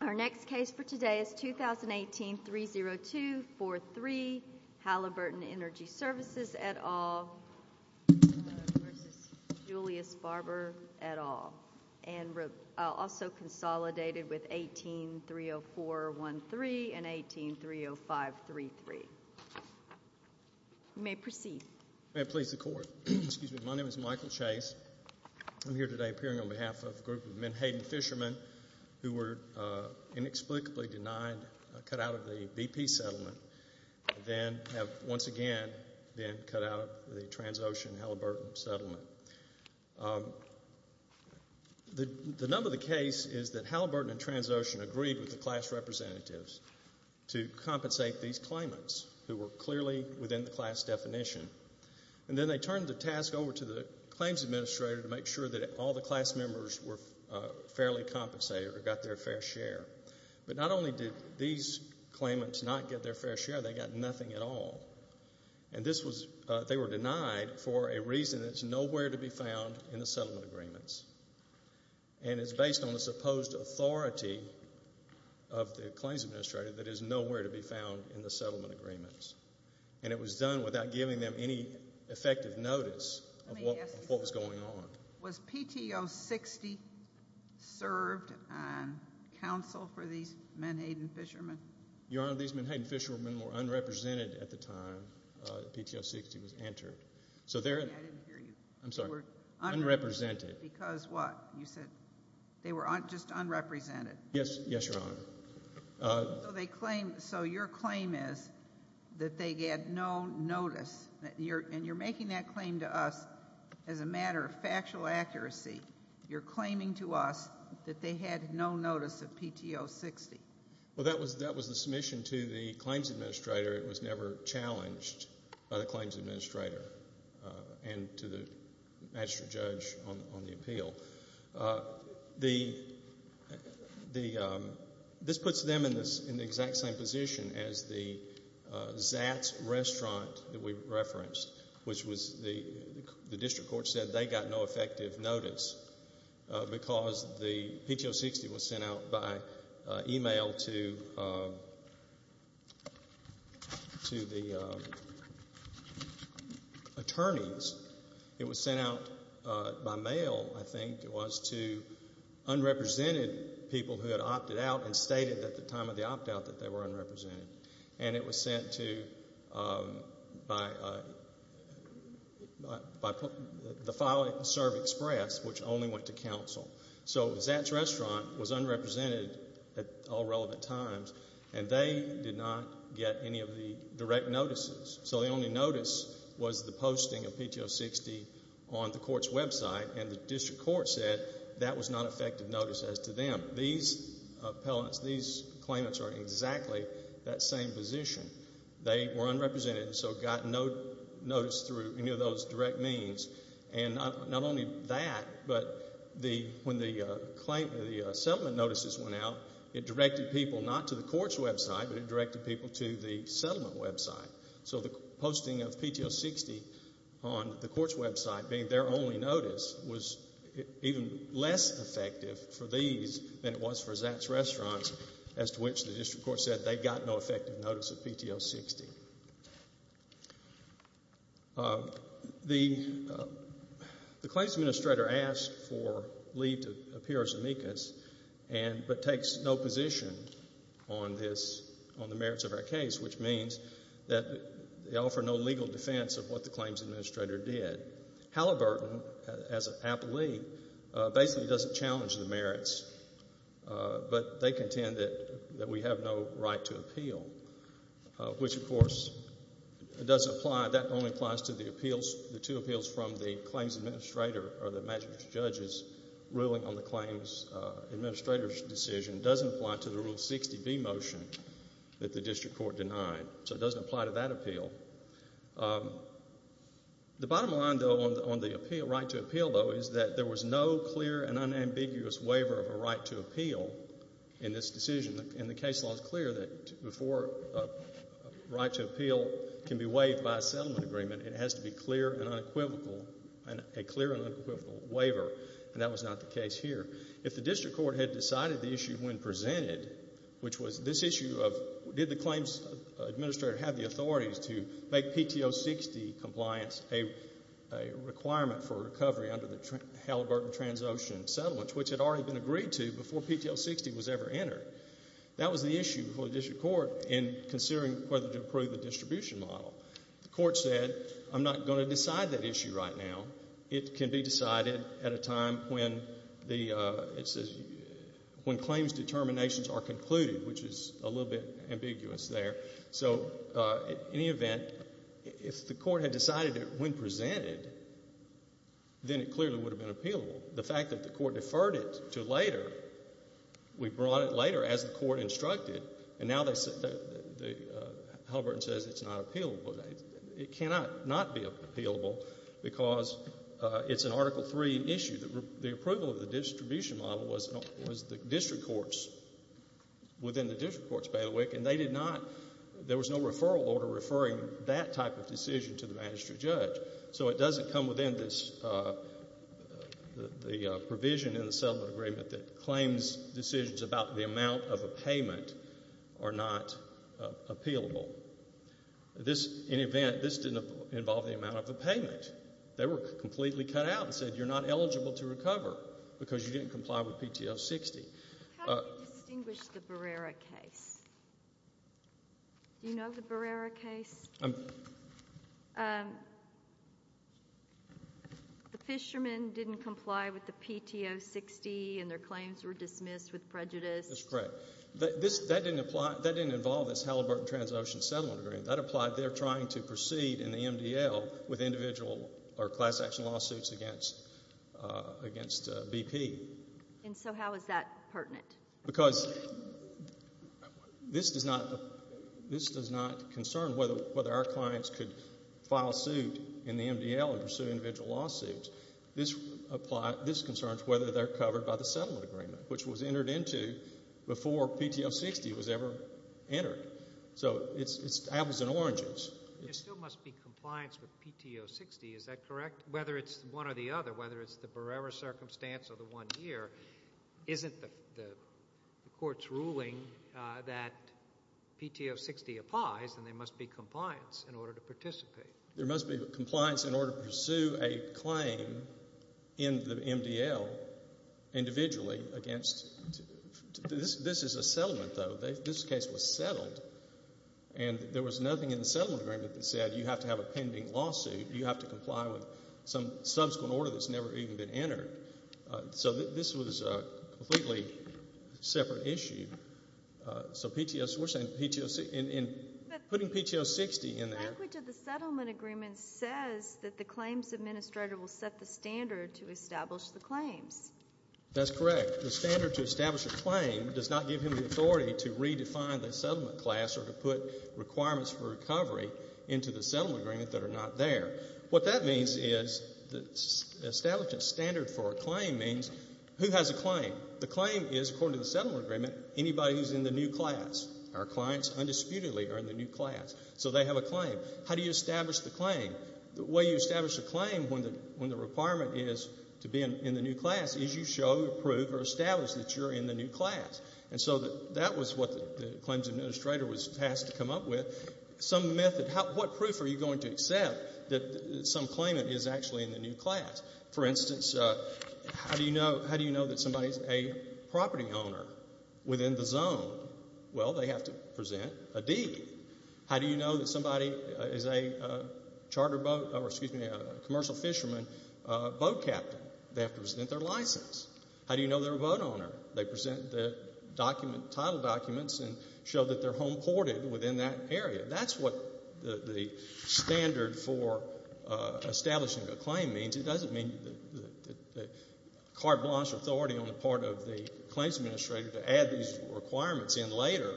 Our next case for today is 2018-30243 Halliburton Energy Services et al. versus Julius Barber et al., and also consolidated with 18-30413 and 18-30533. You may proceed. May it please the Court. My name is Michael Chase. I'm here today appearing on behalf of a group of Menhaden fishermen who were inexplicably denied, cut out of the BP settlement, and then have once again been cut out of the Transocean and Halliburton settlement. The number of the case is that Halliburton and Transocean agreed with the class representatives to compensate these claimants who were clearly within the class definition, and then they turned the task over to the claims administrator to make sure that all the class members were fairly compensated or got their fair share. But not only did these claimants not get their fair share, they got nothing at all. And they were denied for a reason that's nowhere to be found in the settlement agreements. And it's based on the supposed authority of the claims administrator that is nowhere to be found in the settlement agreements. And it was done without giving them any effective notice of what was going on. Was PTO 60 served on counsel for these Menhaden fishermen? Your Honor, these Menhaden fishermen were unrepresented at the time PTO 60 was entered. I didn't hear you. I'm sorry. They were unrepresented. Because what? You said they were just unrepresented. Yes, Your Honor. So your claim is that they get no notice, and you're making that claim to us as a matter of factual accuracy. You're claiming to us that they had no notice of PTO 60. Well, that was the submission to the claims administrator. It was never challenged by the claims administrator and to the magistrate judge on the appeal. This puts them in the exact same position as the Zatz restaurant that we referenced, which was the district court said they got no effective notice because the PTO 60 was emailed to the attorneys. It was sent out by mail, I think it was, to unrepresented people who had opted out and stated at the time of the opt-out that they were unrepresented. And it was sent to the Filing and Serve Express, which only went to counsel. So Zatz restaurant was unrepresented at all relevant times, and they did not get any of the direct notices. So the only notice was the posting of PTO 60 on the court's website, and the district court said that was not effective notice as to them. These appellants, these claimants are in exactly that same position. They were unrepresented and so got no notice through any of those direct means. And not only that, but when the settlement notices went out, it directed people not to the court's website, but it directed people to the settlement website. So the posting of PTO 60 on the court's website being their only notice was even less effective for these than it was for Zatz restaurants, as to which the district court said they got no effective notice of PTO 60. The claims administrator asked for Lee to appear as amicus, but takes no position on this, on the merits of our case, which means that they offer no legal defense of what the claims administrator did. Halliburton, as an appellee, basically doesn't challenge the merits, but they contend that we have no right to appeal, which of course is doesn't apply, that only applies to the appeals, the two appeals from the claims administrator or the magistrate's judges ruling on the claims administrator's decision. It doesn't apply to the Rule 60B motion that the district court denied. So it doesn't apply to that appeal. The bottom line, though, on the right to appeal, though, is that there was no clear and unambiguous waiver of a right to appeal in this decision. And the case law is clear that before a right to appeal can be waived by a settlement agreement, it has to be clear and unequivocal, a clear and unequivocal waiver, and that was not the case here. If the district court had decided the issue when presented, which was this issue of did the claims administrator have the authorities to make PTO 60 compliance a requirement for recovery under the Halliburton Transocean Settlements, which had already been agreed to before PTO 60 was ever entered, that was the issue before the district court in considering whether to approve the distribution model. The court said I'm not going to decide that issue right now. It can be decided at a time when the, it's a, when claims determinations are concluded, which is a little bit ambiguous there. So in any event, if the court had decided it when presented, then it clearly would have been appealable. The fact that the court referred it to later, we brought it later as the court instructed, and now they, Halliburton says it's not appealable. It cannot not be appealable because it's an Article III issue. The approval of the distribution model was the district courts, within the district courts, by the way, and they did not, there was no referral order referring that type of decision to the magistrate judge. So it doesn't come within this provision in the settlement agreement that claims decisions about the amount of a payment are not appealable. This, in event, this didn't involve the amount of a payment. They were completely cut out and said you're not eligible to recover because you didn't comply with PTO 60. How do we distinguish the Barrera case? Do you know the Barrera case? The fishermen didn't comply with the PTO 60 and their claims were dismissed with prejudice. That's correct. That didn't apply, that didn't involve this Halliburton Trans-Ocean Settlement Agreement. That applied there trying to proceed in the MDL with individual or class action lawsuits against BP. And so how is that pertinent? Because this does not concern whether our clients could file suit in the MDL and pursue individual lawsuits. This concerns whether they're covered by the settlement agreement, which was entered into before PTO 60 was ever entered. So it's apples and oranges. There still must be compliance with PTO 60, is that correct? Whether it's one or the other, whether it's the Barrera circumstance or the one here, isn't the court's ruling that there must be compliance in order to participate? There must be compliance in order to pursue a claim in the MDL individually against, this is a settlement though. This case was settled and there was nothing in the settlement agreement that said you have to have a pending lawsuit, you have to comply with some subsequent order that's never even been entered. So this was a completely separate issue. So PTO 60, putting PTO 60 in there. But the language of the settlement agreement says that the claims administrator will set the standard to establish the claims. That's correct. The standard to establish a claim does not give him the authority to redefine the settlement class or to put requirements for recovery into the settlement agreement that are not there. What that means is establishing a standard for a claim means who has a claim? The claim is, according to the settlement agreement, anybody who's in the new class. Our clients undisputedly are in the new class. So they have a claim. How do you establish the claim? The way you establish a claim when the requirement is to be in the new class is you show, prove, or establish that you're in the new class. And so that was what the claims administrator was tasked to come up with. Some method, what proof are you going to accept that some claimant is actually in the new class? For instance, how do you know that somebody's a property owner within the zone? Well, they have to present a deed. How do you know that somebody is a charter boat, or excuse me, a commercial fisherman boat captain? They have to present their license. How do you know they're a boat owner? They present the document, title documents, and show that they're home ported within that area. That's what the standard for establishing a claim means. It doesn't mean that you have to require blanche authority on the part of the claims administrator to add these requirements in later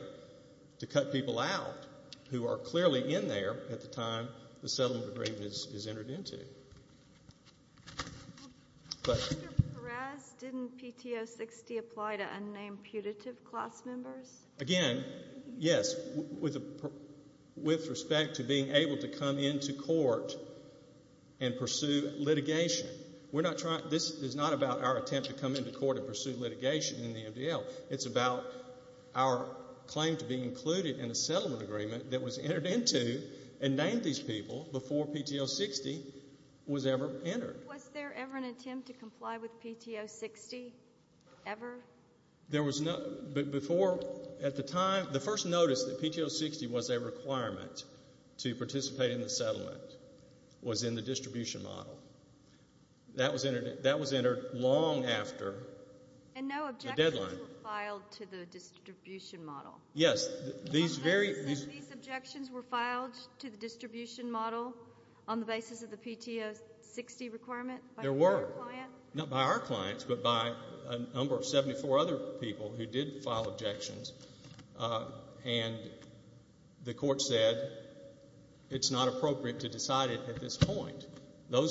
to cut people out who are clearly in there at the time the settlement agreement is entered into. Mr. Perez, didn't PTO 60 apply to unnamed putative class members? Again, yes, with respect to being able to come into court and pursue litigation. This is not about our attempt to come into court and pursue litigation in the MDL. It's about our claim to be included in a settlement agreement that was entered into and named these people before PTO 60 was ever entered. Was there ever an attempt to comply with PTO 60 ever? At the time, the first notice that PTO 60 was a requirement to participate in the settlement was in the distribution model. That was entered long after the deadline. And no objections were filed to the distribution model? Yes. These objections were filed to the distribution model on the basis of the PTO 60 requirement by your client? There were. Not by our clients, but by a number of 74 other people who did file objections. And the court said it's not appropriate to decide it at this point. Whether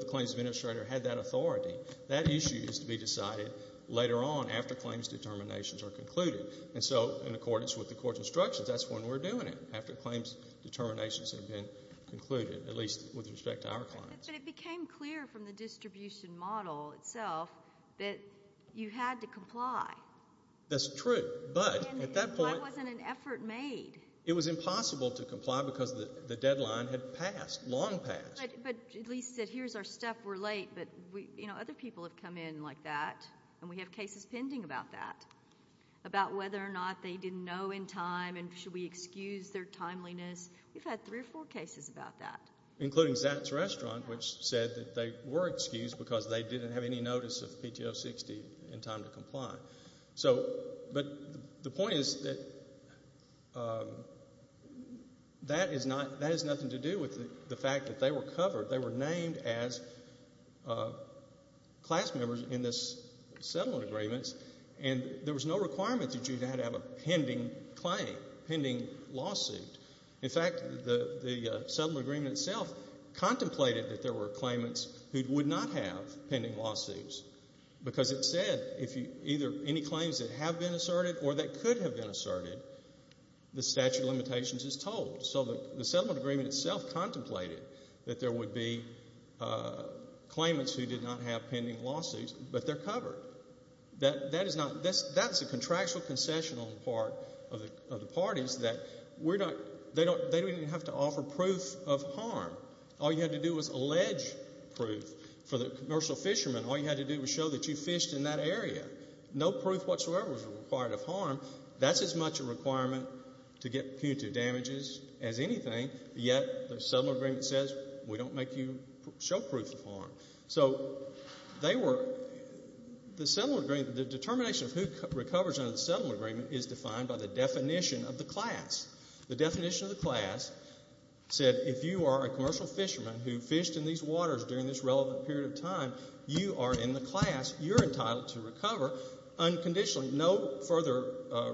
the claims administrator had that authority, that issue is to be decided later on after claims determinations are concluded. And so, in accordance with the court's instructions, that's when we're doing it, after claims determinations have been concluded, at least with respect to our clients. But it became clear from the distribution model itself that you had to comply. That's true, but at that point Why wasn't an effort made? It was impossible to comply because the deadline had passed, long passed. But at least that here's our stuff, we're late, but other people have come in like that, and we have cases pending about that, about whether or not they didn't know in time and should we excuse their timeliness. We've had three or four cases about that. Including Zach's Restaurant, which said that they were excused because they So, but the point is that that is not, that has nothing to do with the fact that they were covered. They were named as class members in this settlement agreements, and there was no requirement that you had to have a pending claim, pending lawsuit. In fact, the settlement agreement itself contemplated that there were claimants who would not have pending lawsuits because it said if either any claims that have been asserted or that could have been asserted, the statute of limitations is told. So the settlement agreement itself contemplated that there would be claimants who did not have pending lawsuits, but they're covered. That is not, that's a contractual concession on the part of the parties that we're not, they don't even have to offer proof of harm. All you had to do was allege proof for the commercial fisherman. All you had to do was show that you fished in that area. No proof whatsoever was required of harm. That's as much a requirement to get punitive damages as anything, yet the settlement agreement says we don't make you show proof of harm. So they were, the settlement agreement, the determination of who recovers under the settlement agreement is defined by the definition of the class. The definition of the class said if you are a commercial fisherman who fished in these waters during this relevant period of time, you are in the class. You're entitled to recover unconditionally. No further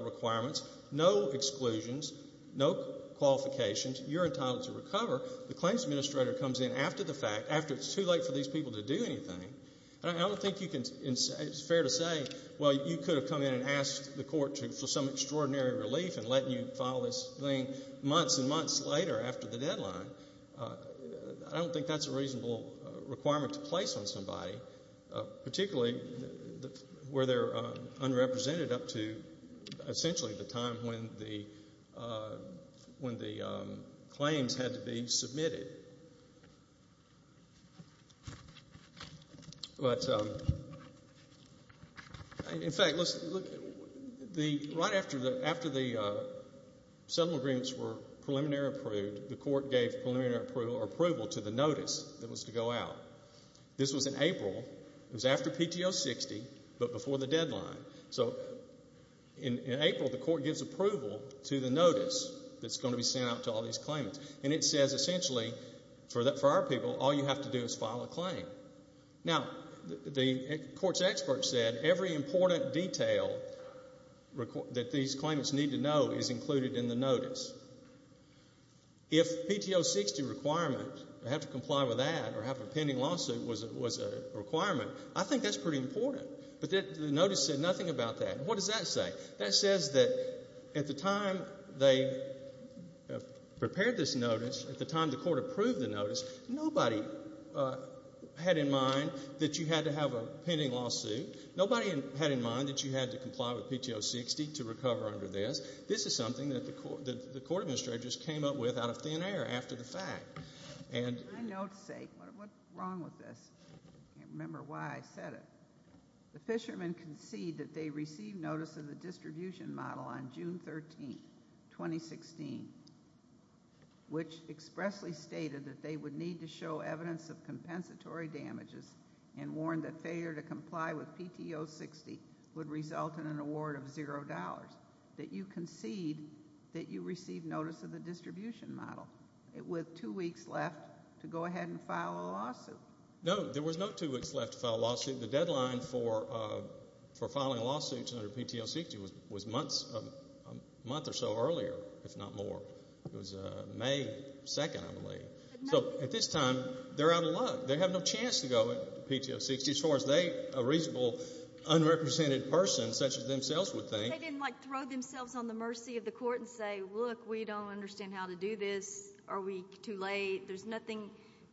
requirements, no exclusions, no qualifications. You're entitled to recover. The claims administrator comes in after the fact, after it's too late for these people to do anything. I don't think you can, it's fair to say, well you could have come in and asked the court for some extraordinary relief in letting you file this thing months and months later after the settlement agreement. I don't think that's a reasonable requirement to place on somebody, particularly where they're unrepresented up to essentially the time when the claims had to be submitted. In fact, right after the settlement agreements were preliminary approved, the court gave preliminary approval to the notice that was to go out. This was in April. It was after PTO 60, but before the deadline. So in April, the court gives approval to the notice that's going to be sent out to all these claimants. And it says essentially for our people, all you have to do is file a claim. Now, the court's expert said every important detail that these claimants need to know is included in the notice. If PTO 60 requirement, I have to comply with that, or have a pending lawsuit was a requirement, I think that's pretty important. But the notice said nothing about that. What does that say? That says that at the time they prepared this notice, at the time the court approved the notice, nobody had in mind that you had to have a pending lawsuit. Nobody had in mind that you had to comply with PTO 60 to recover under this. This is something that the court administrator just came up with out of thin air after the fact. I can't remember why I said it. The fishermen concede that they received notice of the distribution model on June 13, 2016, which expressly stated that they would need to show evidence of compensatory damages and warned that failure to comply with PTO 60 would result in an award of zero dollars. That you concede that you received notice of the distribution model with two weeks left to go ahead and file a lawsuit. No, there was no two weeks left to file a lawsuit. The deadline for filing a lawsuit under PTO 60 was months a month or so earlier, if not more. It was May 2nd, I believe. So, at this time, they're out of luck. They have no chance to go at PTO 60. As far as they, a reasonable unrepresented person such as themselves would think. They didn't, like, throw themselves on the mercy of the court and say, look, we don't understand how to do this. Are we too late? There's nothing,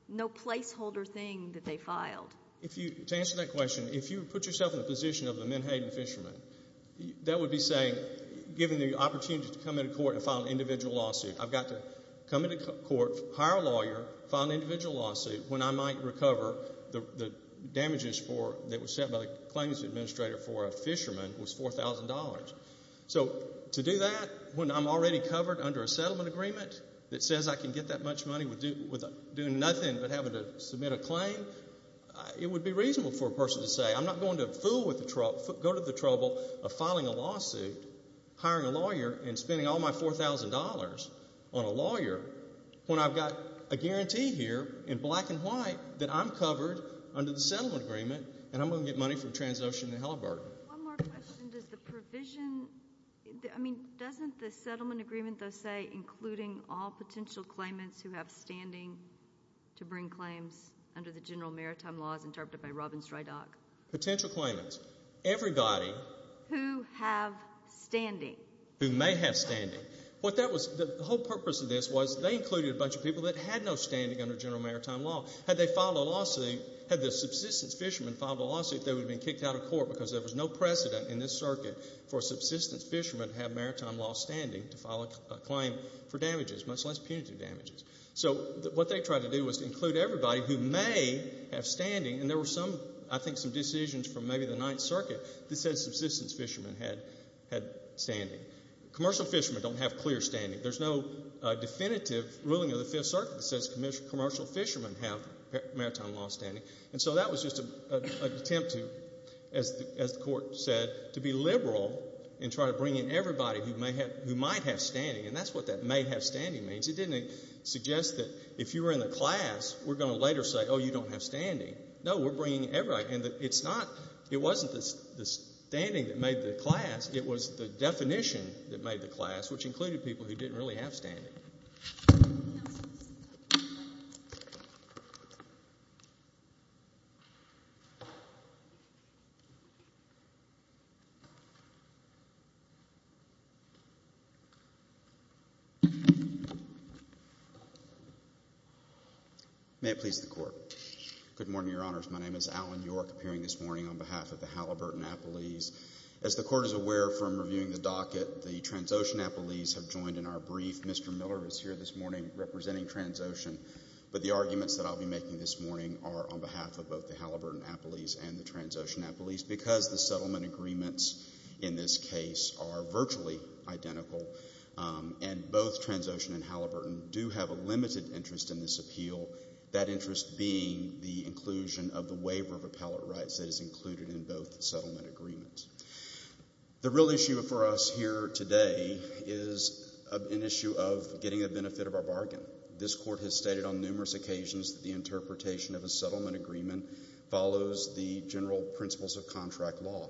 no placeholder thing that they filed. To answer that question, if you put yourself in the position of the Minhayton fishermen, that would be saying, given the opportunity to come into court and file an individual lawsuit, I've got to come into court, hire a lawyer, file an individual lawsuit when I might recover the damages that was set by the claims administrator for a fisherman was $4,000. So, to do that when I'm already covered under a settlement agreement that says I can get that much money with doing nothing but having to submit a claim, it would be reasonable for a person to say, I'm not going to fool with the, go to the trouble of filing a lawsuit, hiring a lawyer, and spending all my $4,000 on a lawyer when I've got a guarantee here in black and white that I'm going to get money from TransOcean and Halliburton. One more question. Does the provision, I mean, doesn't the settlement agreement though say including all potential claimants who have standing to bring claims under the general maritime laws interpreted by Robin Strydock? Potential claimants. Everybody. Who have standing. Who may have standing. What that was, the whole purpose of this was they included a bunch of people that had no standing under general maritime law. Had they filed a lawsuit, they would have been kicked out of court because there was no precedent in this circuit for subsistence fishermen to have maritime law standing to file a claim for damages, much less punitive damages. So, what they tried to do was include everybody who may have standing, and there were some, I think some decisions from maybe the Ninth Circuit that said subsistence fishermen had standing. Commercial fishermen don't have clear standing. There's no definitive ruling of the Fifth Circuit that says commercial fishermen have maritime law standing. And so that was just an attempt to as the court said, to be liberal and try to bring in everybody who might have standing. And that's what that may have standing means. It didn't suggest that if you were in the class, we're going to later say, oh, you don't have standing. No, we're bringing everybody. And it's not, it wasn't the standing that made the class. It was the definition that made the class which included people who didn't really have standing. Thank you. May it please the Court. Good morning, Your Honors. My name is Alan York, appearing this morning on behalf of the Halliburton Appellees. As the Court is aware from reviewing the docket, the settler is here this morning representing Transocean. But the arguments that I'll be making this morning are on behalf of both the Halliburton Appellees and the Transocean Appellees because the settlement agreements in this case are virtually identical. And both Transocean and Halliburton do have a limited interest in this appeal. That interest being the inclusion of the waiver of appellate rights that is included in both settlement agreements. The real issue for us here today is an issue of getting a benefit of our bargain. This Court has stated on numerous occasions that the interpretation of a settlement agreement follows the general principles of contract law.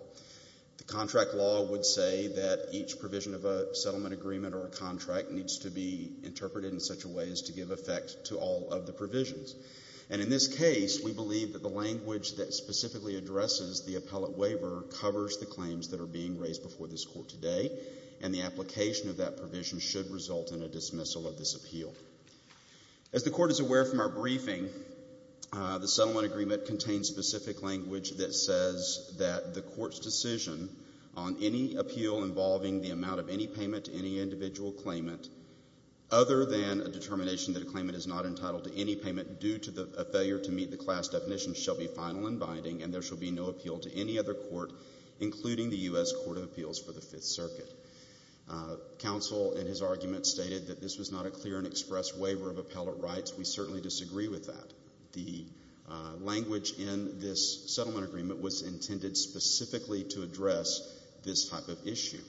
The contract law would say that each provision of a settlement agreement or a contract needs to be interpreted in such a way as to give effect to all of the provisions. And in this case, we believe that the language that specifically addresses the appellate waiver covers the claims that are being raised before this Court today. And the application of that provision should result in a dismissal of this appeal. As the Court is aware from our briefing, the settlement agreement contains specific language that says that the Court's decision on any appeal involving the amount of any payment to any individual claimant other than a determination that a claimant is not entitled to any payment due to a failure to meet the class definition shall be final and binding and there shall be no appeal to any other Court including the U.S. Court of Appeals for the Fifth Circuit. Counsel in his argument stated that this was not a clear and express waiver of appellate rights. We certainly disagree with that. The language in this settlement agreement was intended specifically to address this type of issue.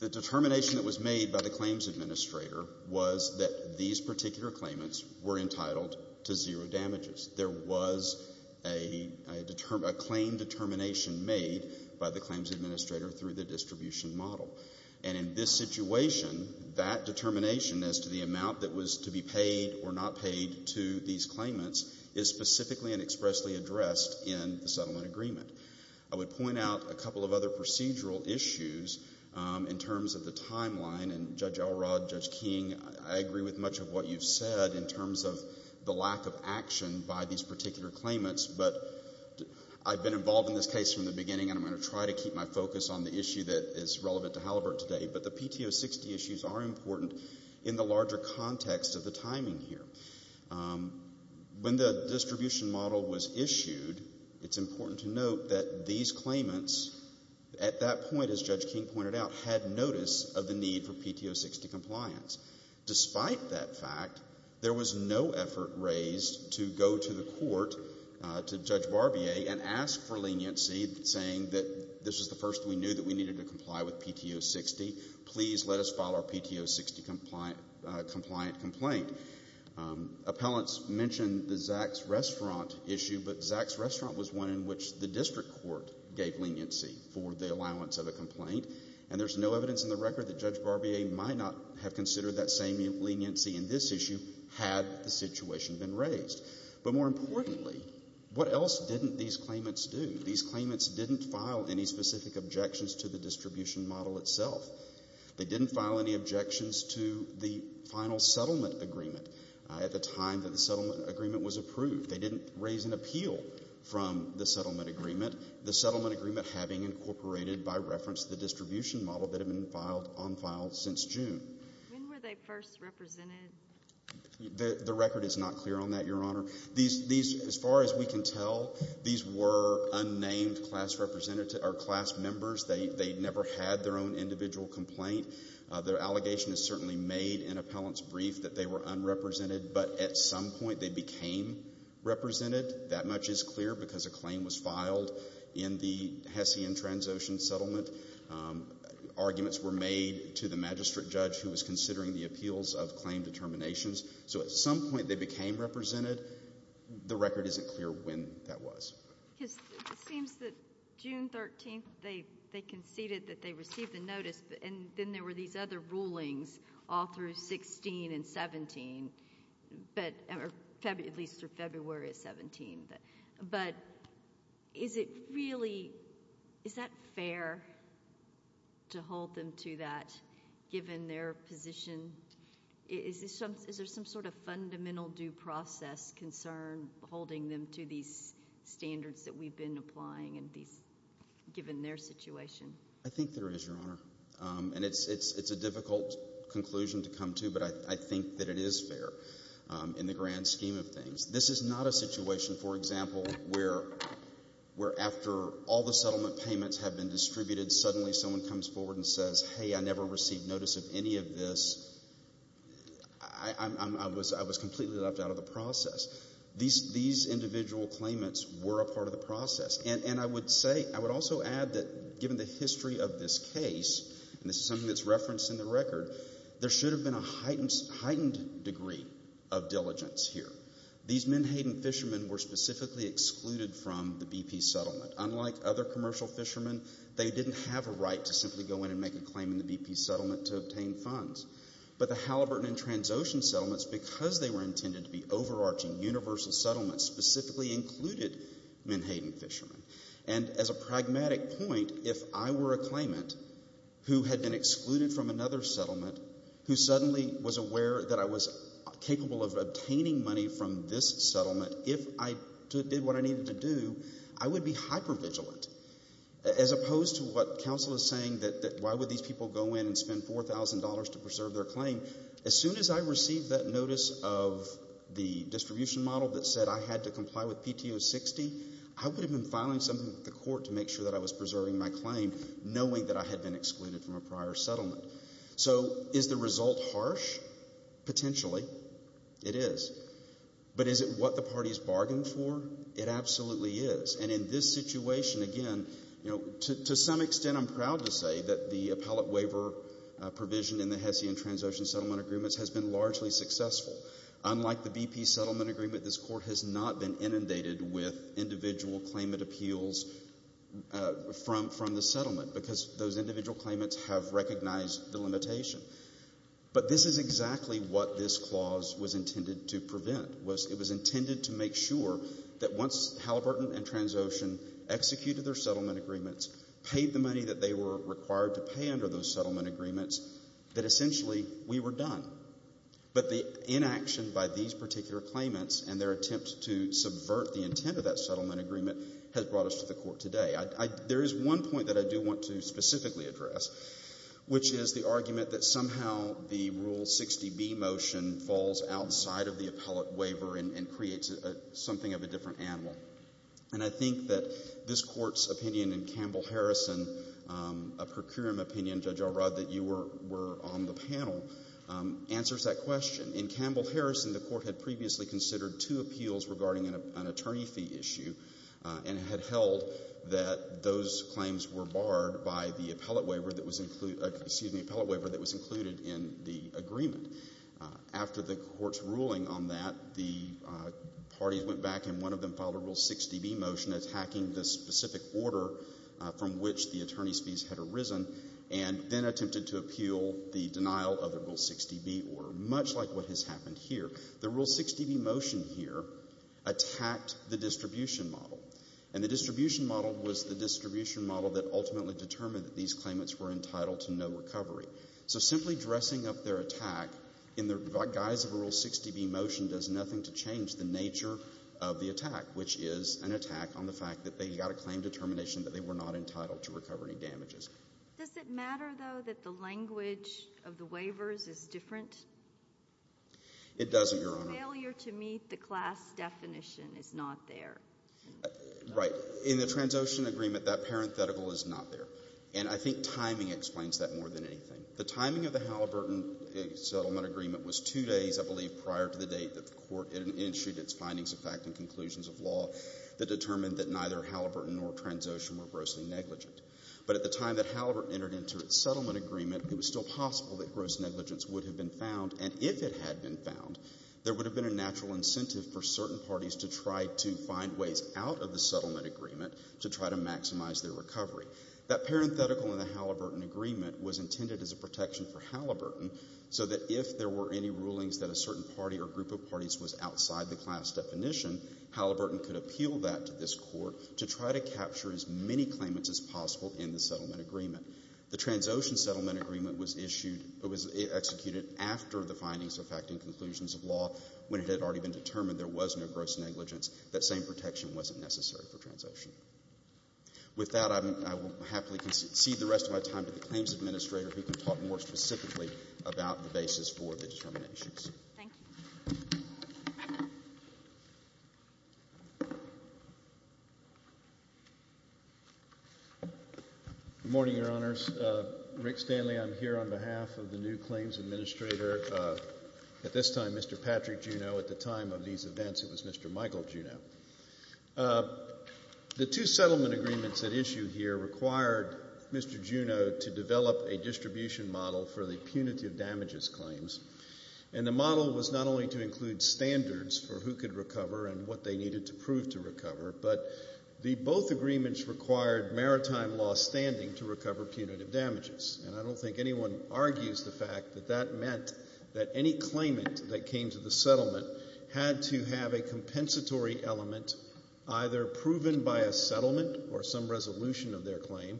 The determination that was made by the claims administrator was that these particular claimants were entitled to zero damages. There was a claim determination made by the claims administrator through the distribution model. And in this situation, that determination as to the amount that was to be paid or not paid to these claimants is specifically and expressly addressed in the settlement agreement. I would point out a couple of other procedural issues in terms of the timeline. And Judge Elrod, Judge King, I agree with much of what you've said in terms of the lack of action by these particular claimants. But I've been involved in this case from the beginning and I'm going to try to keep my focus on the issue that is relevant to Halliburton today. But the PTO 60 issues are important in the larger context of the timing here. When the distribution model was issued, it's important to note that these claimants at that point, as Judge King pointed out, had notice of the need for PTO 60 compliance. Despite that fact, there was no effort raised to go to the court, to Judge Barbier, and ask for leniency saying that this is the first we knew that we needed to comply with PTO 60. Please let us file our PTO 60 compliant complaint. Appellants mentioned the Zach's Restaurant issue, but Zach's Restaurant was one in which the district court gave leniency for the allowance of a complaint. And there's no evidence in the record that Judge Barbier might not have considered that same leniency in this situation been raised. But more importantly, what else didn't these claimants do? These claimants didn't file any specific objections to the distribution model itself. They didn't file any objections to the final settlement agreement at the time that the settlement agreement was approved. They didn't raise an appeal from the settlement agreement. The settlement agreement having incorporated by reference the distribution model that had been on file since June. When were they first represented? The record is not clear on that, Your Honor. As far as we can tell, these were unnamed class members. They never had their own individual complaint. Their allegation is certainly made in appellant's brief that they were unrepresented, but at some point they became represented. That much is clear because a claim was filed in the Hesse and Transocean settlement. Arguments were made to the magistrate judge who was considering the appeals of claim determinations. So at some point they became represented. The record isn't clear when that was. It seems that June 13th they conceded that they received the notice, and then there were these other rulings all through 16 and 17, at least through February of 17. But is it really, is that fair to hold them to that given their position? Is there some sort of fundamental due process concern holding them to these standards that we've been applying given their situation? I think there is, Your Honor. It's a difficult conclusion to come to, but I think that it is fair in the grand scheme of things. This is not a situation, for example, where after all the settlement payments have been I never received notice of any of this. I was completely left out of the process. These individual claimants were a part of the process. And I would say, I would also add that given the history of this case, and this is something that's referenced in the record, there should have been a heightened degree of diligence here. These Menhaden fishermen were specifically excluded from the BP settlement. Unlike other commercial fishermen, they didn't have a right to simply go in and make a claim in the BP settlement to obtain funds. But the Halliburton and Transocean settlements, because they were intended to be overarching, universal settlements, specifically included Menhaden fishermen. And as a pragmatic point, if I were a claimant who had been excluded from another settlement, who suddenly was aware that I was capable of obtaining money from this settlement, if I did what I needed to do, I would be hyper-vigilant. As opposed to what counsel is saying, that why would these people go in and spend $4,000 to preserve their claim, as soon as I received that notice of the distribution model that said I had to comply with PTO 60, I would have been filing something with the court to make sure that I was preserving my claim, knowing that I had been excluded from a prior settlement. So, is the result harsh? Potentially. It is. But is it what the parties bargained for? It absolutely is. And in this situation, again, to some extent I'm proud to say that the appellate waiver provision in the Hesse and Transocean settlement agreements has been largely successful. Unlike the BP settlement agreement, this court has not been inundated with individual claimant appeals from the settlement, because those individual claimants have recognized the limitation. But this is exactly what this clause was intended to prevent. It was intended to make sure that once Halliburton and Transocean executed their settlement agreements, paid the money that they were required to pay under those settlement agreements, that essentially we were done. But the inaction by these particular claimants and their attempt to subvert the intent of that settlement agreement has brought us to the court today. There is one point that I do want to specifically address, which is the argument that somehow the Rule 60B motion falls outside of the appellate waiver and creates something of a different animal. And I think that this Court's opinion in Campbell-Harrison, a procurement opinion, Judge Alrod, that you were on the panel answers that question. In Campbell-Harrison, the Court had previously considered two appeals regarding an attorney fee issue and had held that those claims were barred by the appellate waiver that was included in the agreement. After the Court's ruling on that, the parties went back and one of them filed a Rule 60B motion attacking the specific order from which the attorney's fees had arisen and then attempted to appeal the denial of the Rule 60B order, much like what has happened here. The Rule 60B motion here attacked the distribution model. And the distribution model was the distribution model that ultimately determined that these claimants were entitled to no recovery. So simply dressing up their attack in the guise of a Rule 60B motion does nothing to change the nature of the attack, which is an attack on the fact that they got a claim determination that they were not entitled to recover any damages. Does it matter, though, that the language of the waivers is different? It doesn't, Your Honor. The failure to meet the class definition is not there. Right. In the Transocean agreement, that parenthetical is not there. And I think timing explains that more than anything. The timing of the Halliburton settlement agreement was two days, I believe, prior to the date that the Court issued its findings of fact and conclusions of law that determined that neither Halliburton nor Transocean were grossly negligent. But at the time that Halliburton entered into its settlement agreement, it was still possible that gross negligence would have been found. And if it had been found, there would have been a natural incentive for certain parties to try to find ways out of the settlement agreement to try to maximize their recovery. That parenthetical in the Halliburton agreement was intended as a protection for Halliburton so that if there were any rulings that a certain party or group of parties was outside the class definition, Halliburton could appeal that to this Court to try to capture as many claimants as possible in the settlement agreement. The Transocean settlement agreement was issued, was executed after the findings of fact and conclusions of law, when it had already been determined there was no gross negligence, that same protection wasn't necessary for Transocean. With that, I will happily concede the rest of my time to the Claims Administrator who can talk more specifically about the basis for the determinations. Thank you. Good morning, Your Honors. Rick Stanley. I'm here on behalf of the new Claims Administrator. At this time, Mr. Patrick Juneau. At the time of these events, it was Mr. Michael Juneau. The two settlement agreements at issue here required Mr. Juneau to develop a distribution model for the punitive damages claims. And the model was not only to include standards for who could recover and what they needed to prove to recover, but the both agreements required maritime law standing to recover punitive damages. And I don't think anyone argues the fact that that meant that any claimant that came to the settlement had to have a compensatory element either proven by a settlement or some resolution of their claim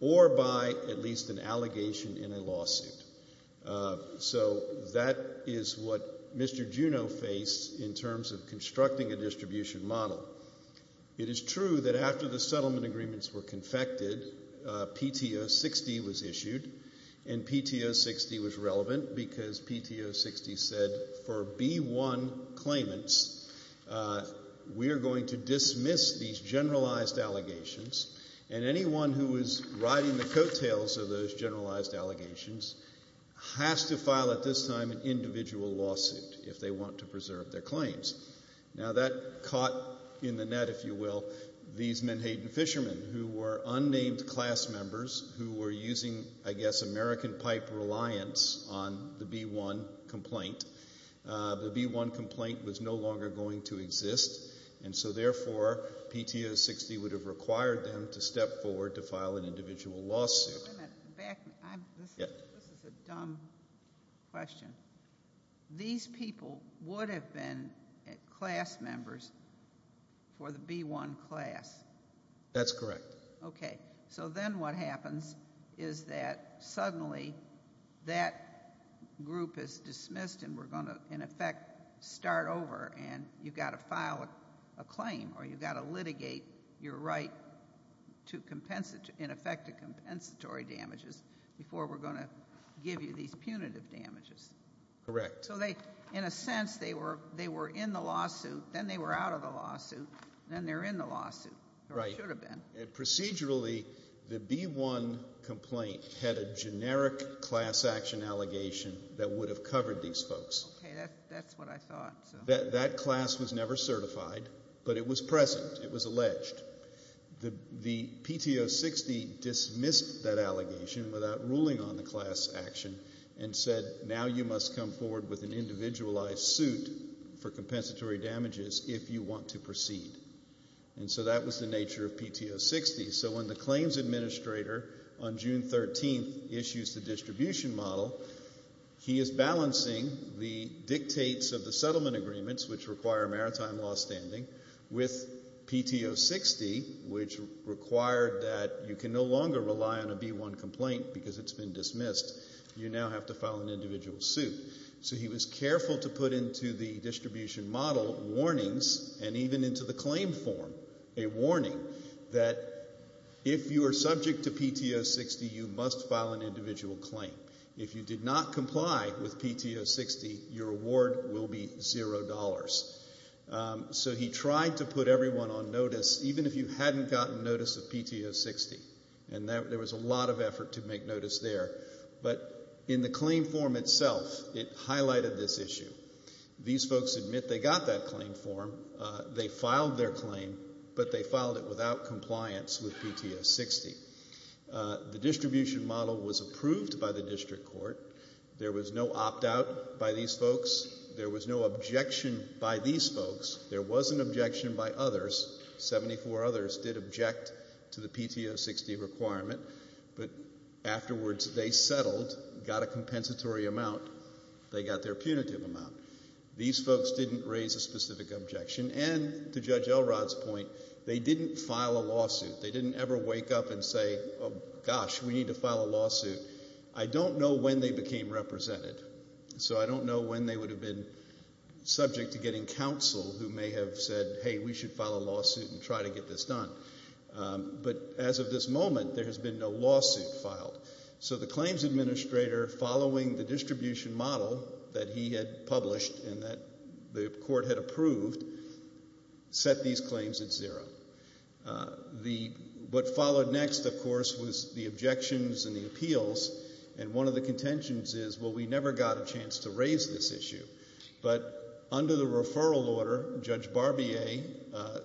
or by at least an allegation in a lawsuit. So, that is what Mr. Juneau faced in terms of constructing a distribution model. It is true that after the settlement agreements were confected, PTO 60 was issued and PTO 60 was relevant because PTO 60 said for B1 claimants, we are going to dismiss these generalized allegations and anyone who is riding the coattails of those generalized allegations has to file at this time an individual lawsuit if they want to preserve their claims. Now, that caught in the net, if you will, these Menhaden fishermen who were unnamed class members who were using, I guess, American pipe reliance on the B1 complaint, the B1 complaint was no longer going to exist and so therefore PTO 60 would have required them to step forward to file an individual lawsuit. This is a dumb question. These people would have been class members for the B1 class. That's correct. Okay, so then what happens is that suddenly that group is dismissed and we're going to in effect start over and you've got to file a claim or you've got to litigate your right to in effect to compensatory damages before we're going to give you these punitive damages. Correct. So they, in a sense, they were in the lawsuit, then they were out of the lawsuit, then they're in the lawsuit or should have been. Procedurally, the B1 complaint had a generic class action allegation that would have covered these folks. Okay, that's what I thought. That class was never certified, but it was present. It was alleged. The PTO 60 dismissed that allegation without ruling on the class action and said, now you must come forward with an individualized suit for compensatory damages if you want to proceed. And so that was the nature of PTO 60. So when the claims administrator on June 13th issues the distribution model, he is balancing the dictates of the settlement agreements, which require maritime law standing, with PTO 60, which required that you can no longer rely on a B1 complaint because it's been dismissed. You now have to file an individual suit. So he was careful to put into the distribution model warnings and even into the claim form a warning that if you are subject to PTO 60, you must file an individual claim. If you did not comply with PTO 60, your award will be zero dollars. So he tried to put everyone on notice, even if you hadn't gotten notice of PTO 60. And there was a lot of effort to make notice there. But in the claim form itself, it highlighted this issue. These folks admit they got that claim form. They filed their claim, but they filed it without compliance with PTO 60. The distribution model was approved by the district court. There was no opt-out by these folks. There was no objection by these folks. There was an objection by others. Seventy-four others did object to the PTO 60 requirement. But afterwards, they settled, got a compensatory amount. They got their punitive amount. These folks didn't raise a specific objection. And to Judge Elrod's point, they didn't file a lawsuit. They didn't ever wake up and say, gosh, we need to file a lawsuit. I don't know when they became represented. So I don't know when they would have been subject to getting counsel who may have said, hey, we should file a lawsuit and try to get this done. But as of this moment, there has been no lawsuit filed. So the claims administrator, following the distribution model that he had published and that the court had approved, set these claims at zero. What followed next, of course, was the objections and the appeals. And one of the contentions is, well, we never got a chance to raise this issue. But under the referral order, Judge Barbier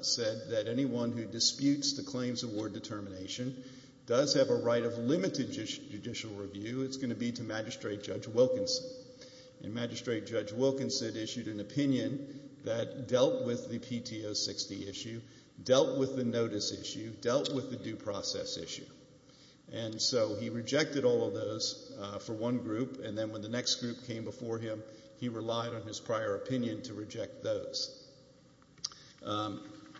said that anyone who disputes the claims award determination does have a right of limited judicial review. It's going to be to And Magistrate Judge Wilkinson issued an opinion that dealt with the PTO 60 issue, dealt with the notice issue, dealt with the due process issue. And so he rejected all of those for one group, and then when the next group came before him, he relied on his prior opinion to reject those.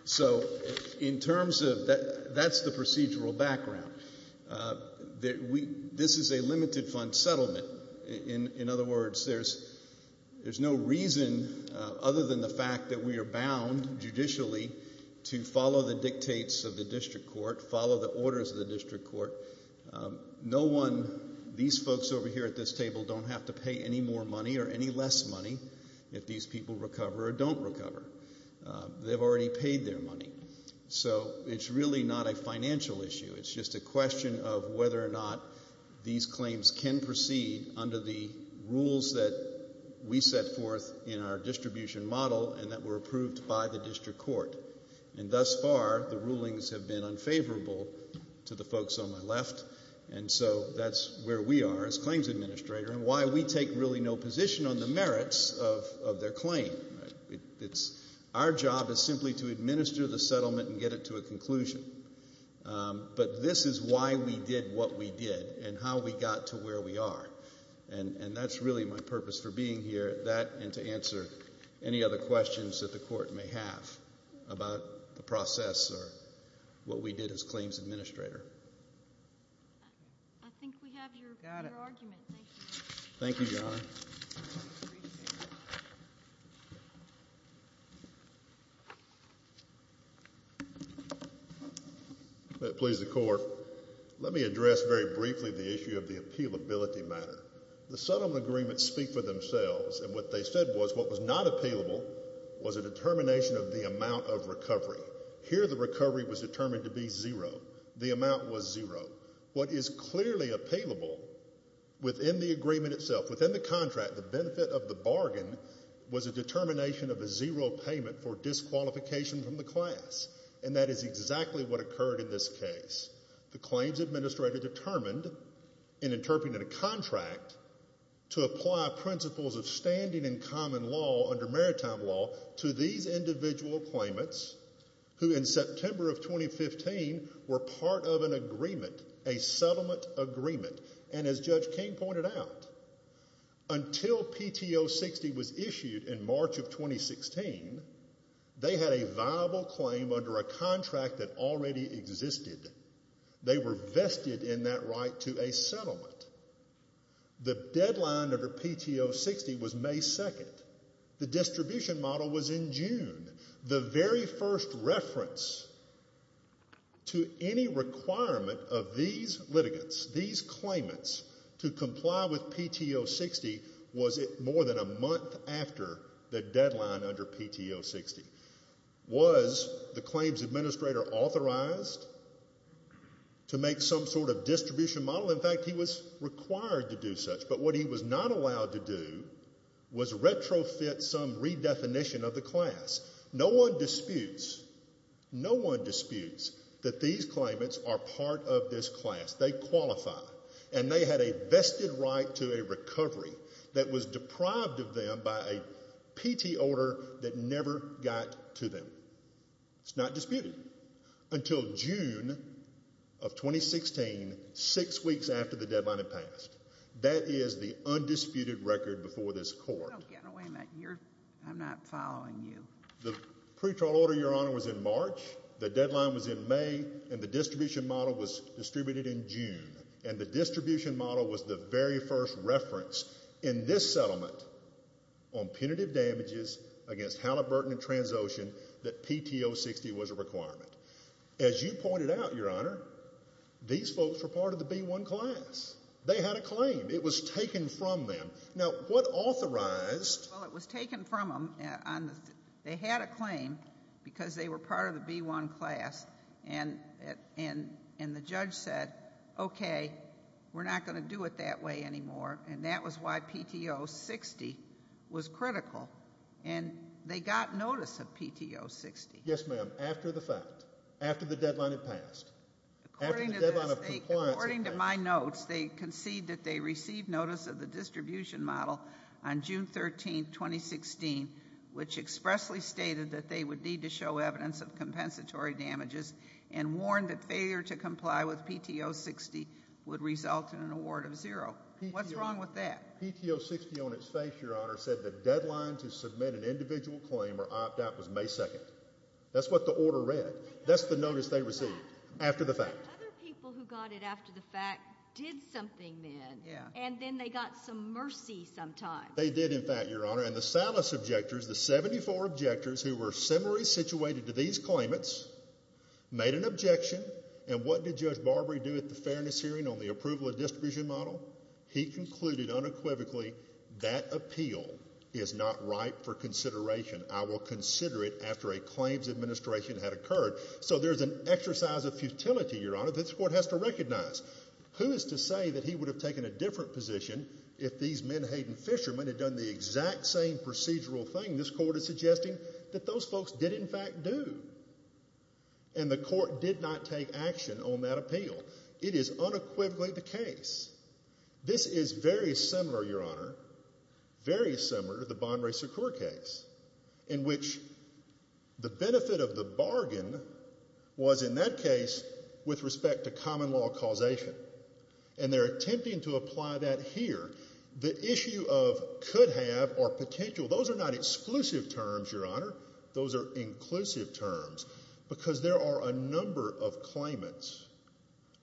So in terms of, that's the procedural background. This is a limited fund settlement. In other words, there's no reason other than the fact that we are bound, judicially, to follow the dictates of the district court, follow the orders of the district court. No one, these folks over here at this table, don't have to pay any more money or any less money if these people recover or don't recover. They've already paid their money. So it's really not a financial issue. It's just a question of whether or not these claims can proceed under the rules that we set forth in our distribution model and that were approved by the district court. And thus far, the rulings have been unfavorable to the folks on my left, and so that's where we are as claims administrator and why we take really no position on the merits of their claim. Our job is simply to administer the settlement and get it to a conclusion. But this is why we did what we did and how we got to where we are. And that's really my purpose for being here, that and to answer any other questions that the court may have about the process or what we did as claims administrator. I think we have your argument. Thank you. Thank you, Your Honor. Thank you. If that pleases the court, let me address very briefly the issue of the appealability matter. The settlement agreements speak for themselves, and what they said was what was not appealable was a determination of the amount of recovery. Here, the recovery was determined to be zero. The amount was zero. What is clearly appealable within the agreement itself, within the contract, the benefit of the bargain was a determination of a zero payment for disqualification from the class. And that is exactly what occurred in this case. The claims administrator determined in interpreting a contract to apply principles of standing in common law under maritime law to these individual claimants who in September of 2015 were part of an agreement, a settlement agreement. And as Judge King pointed out, until PTO 60 was issued in March of 2016, they had a viable claim under a contract that already existed. They were vested in that right to a settlement. The deadline under PTO 60 was May 2nd. The distribution model was in June. The very first reference to any requirement of these litigants, these claimants to comply with PTO 60 was more than a month after the deadline under PTO 60. Was the claims administrator authorized to make some sort of distribution model? In fact, he was required to do such, but what he was not allowed to do was retrofit some redefinition of the class. No one disputes, no one disputes that these claimants are part of this class. They qualify. And they had a vested right to a recovery that was deprived of them by a PT order that never got to them. It's not disputed. Until June of 2016, six weeks after the deadline had passed. That is the undisputed record before this court. I'm not following you. The pretrial order, Your Honor, was in March. The deadline was in May, and the distribution model was distributed in June. And the distribution model was the very first reference in this settlement on punitive damages against Halliburton and Transocean that PTO 60 was a requirement. As you pointed out, Your Honor, these folks were part of the B1 class. They had a claim. It was taken from them. Now, what authorized... Well, it was taken from them. They had a claim because they were part of the B1 class. And the judge said, okay, we're not going to do it that way anymore. And that was why PTO 60 was critical. And they got notice of PTO 60. Yes, ma'am. After the fact. After the deadline had passed. According to my notes, they concede that they received notice of the distribution model on June 13, 2016, which expressly stated that they would need to show evidence of compensatory damages and warned that failure to comply with PTO 60 would result in an award of zero. What's wrong with that? PTO 60 on its face, Your Honor, said the deadline to submit an individual claim or opt out was May 2nd. That's what the order read. That's the notice they received. After the fact. Other people who got it after the fact did something then. And then they got some mercy sometime. They did, in fact, Your Honor. And the Salas objectors, the 74 objectors who were similarly situated to these claimants, made an objection. And what did Judge Barbary do at the fairness hearing on the approval of distribution model? He concluded unequivocally, that appeal is not ripe for consideration. I will consider it after a claims administration had occurred. So there's an exercise of futility, Your Honor, that this Court has to recognize. Who is to say that he would have taken a different position if these menhaden fishermen had done the exact same procedural thing this Court is suggesting that those folks did, in fact, do? And the Court did not take action on that appeal. It is unequivocally the case. This is very similar, Your Honor. Very similar to the Bonere Secure case. In which the benefit of the bargain was in that case, with respect to common law causation. And they're attempting to apply that here. The issue of could have or potential, those are not exclusive terms, Your Honor. Those are inclusive terms. Because there are a number of claimants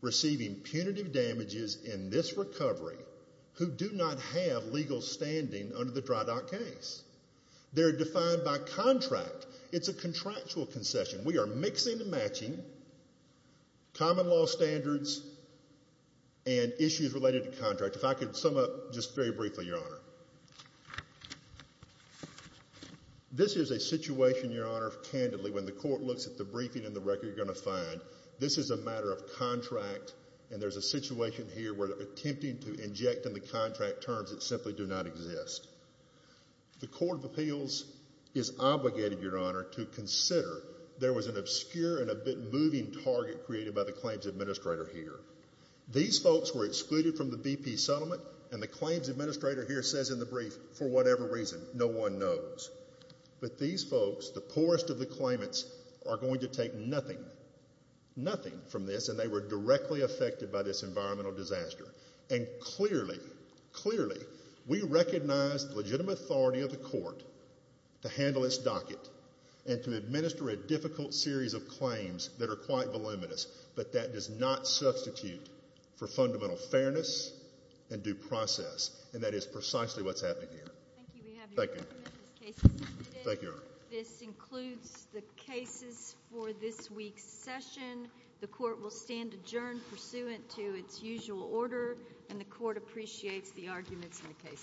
receiving punitive damages in this recovery, who do not have legal standing under the Dry Dock case. They're defined by contract. It's a contractual concession. We are mixing and matching common law standards and issues related to contract. If I could sum up just very briefly, Your Honor. This is a situation, Your Honor, candidly, when the Court looks at the briefing and the record, you're going to find this is a matter of contract and there's a situation here where they're attempting to inject in the contract terms that simply do not exist. The Court of Appeals is obligated, Your Honor, to consider there was an obscure and a bit moving target created by the Claims Administrator here. These folks were excluded from the BP settlement and the Claims Administrator here says in the brief, for whatever reason, no one knows. But these folks, the poorest of the claimants, are going to take nothing, nothing from this and they were directly affected by this environmental disaster. And clearly, clearly, we recognize the legitimate authority of the Court to handle its docket and to handle claims that are quite voluminous, but that does not substitute for fundamental fairness and due process. And that is precisely what's happening here. Thank you. Thank you, Your Honor. This includes the cases for this week's session. The Court will stand adjourned pursuant to its usual order and the Court appreciates the arguments in the case today. Thank you.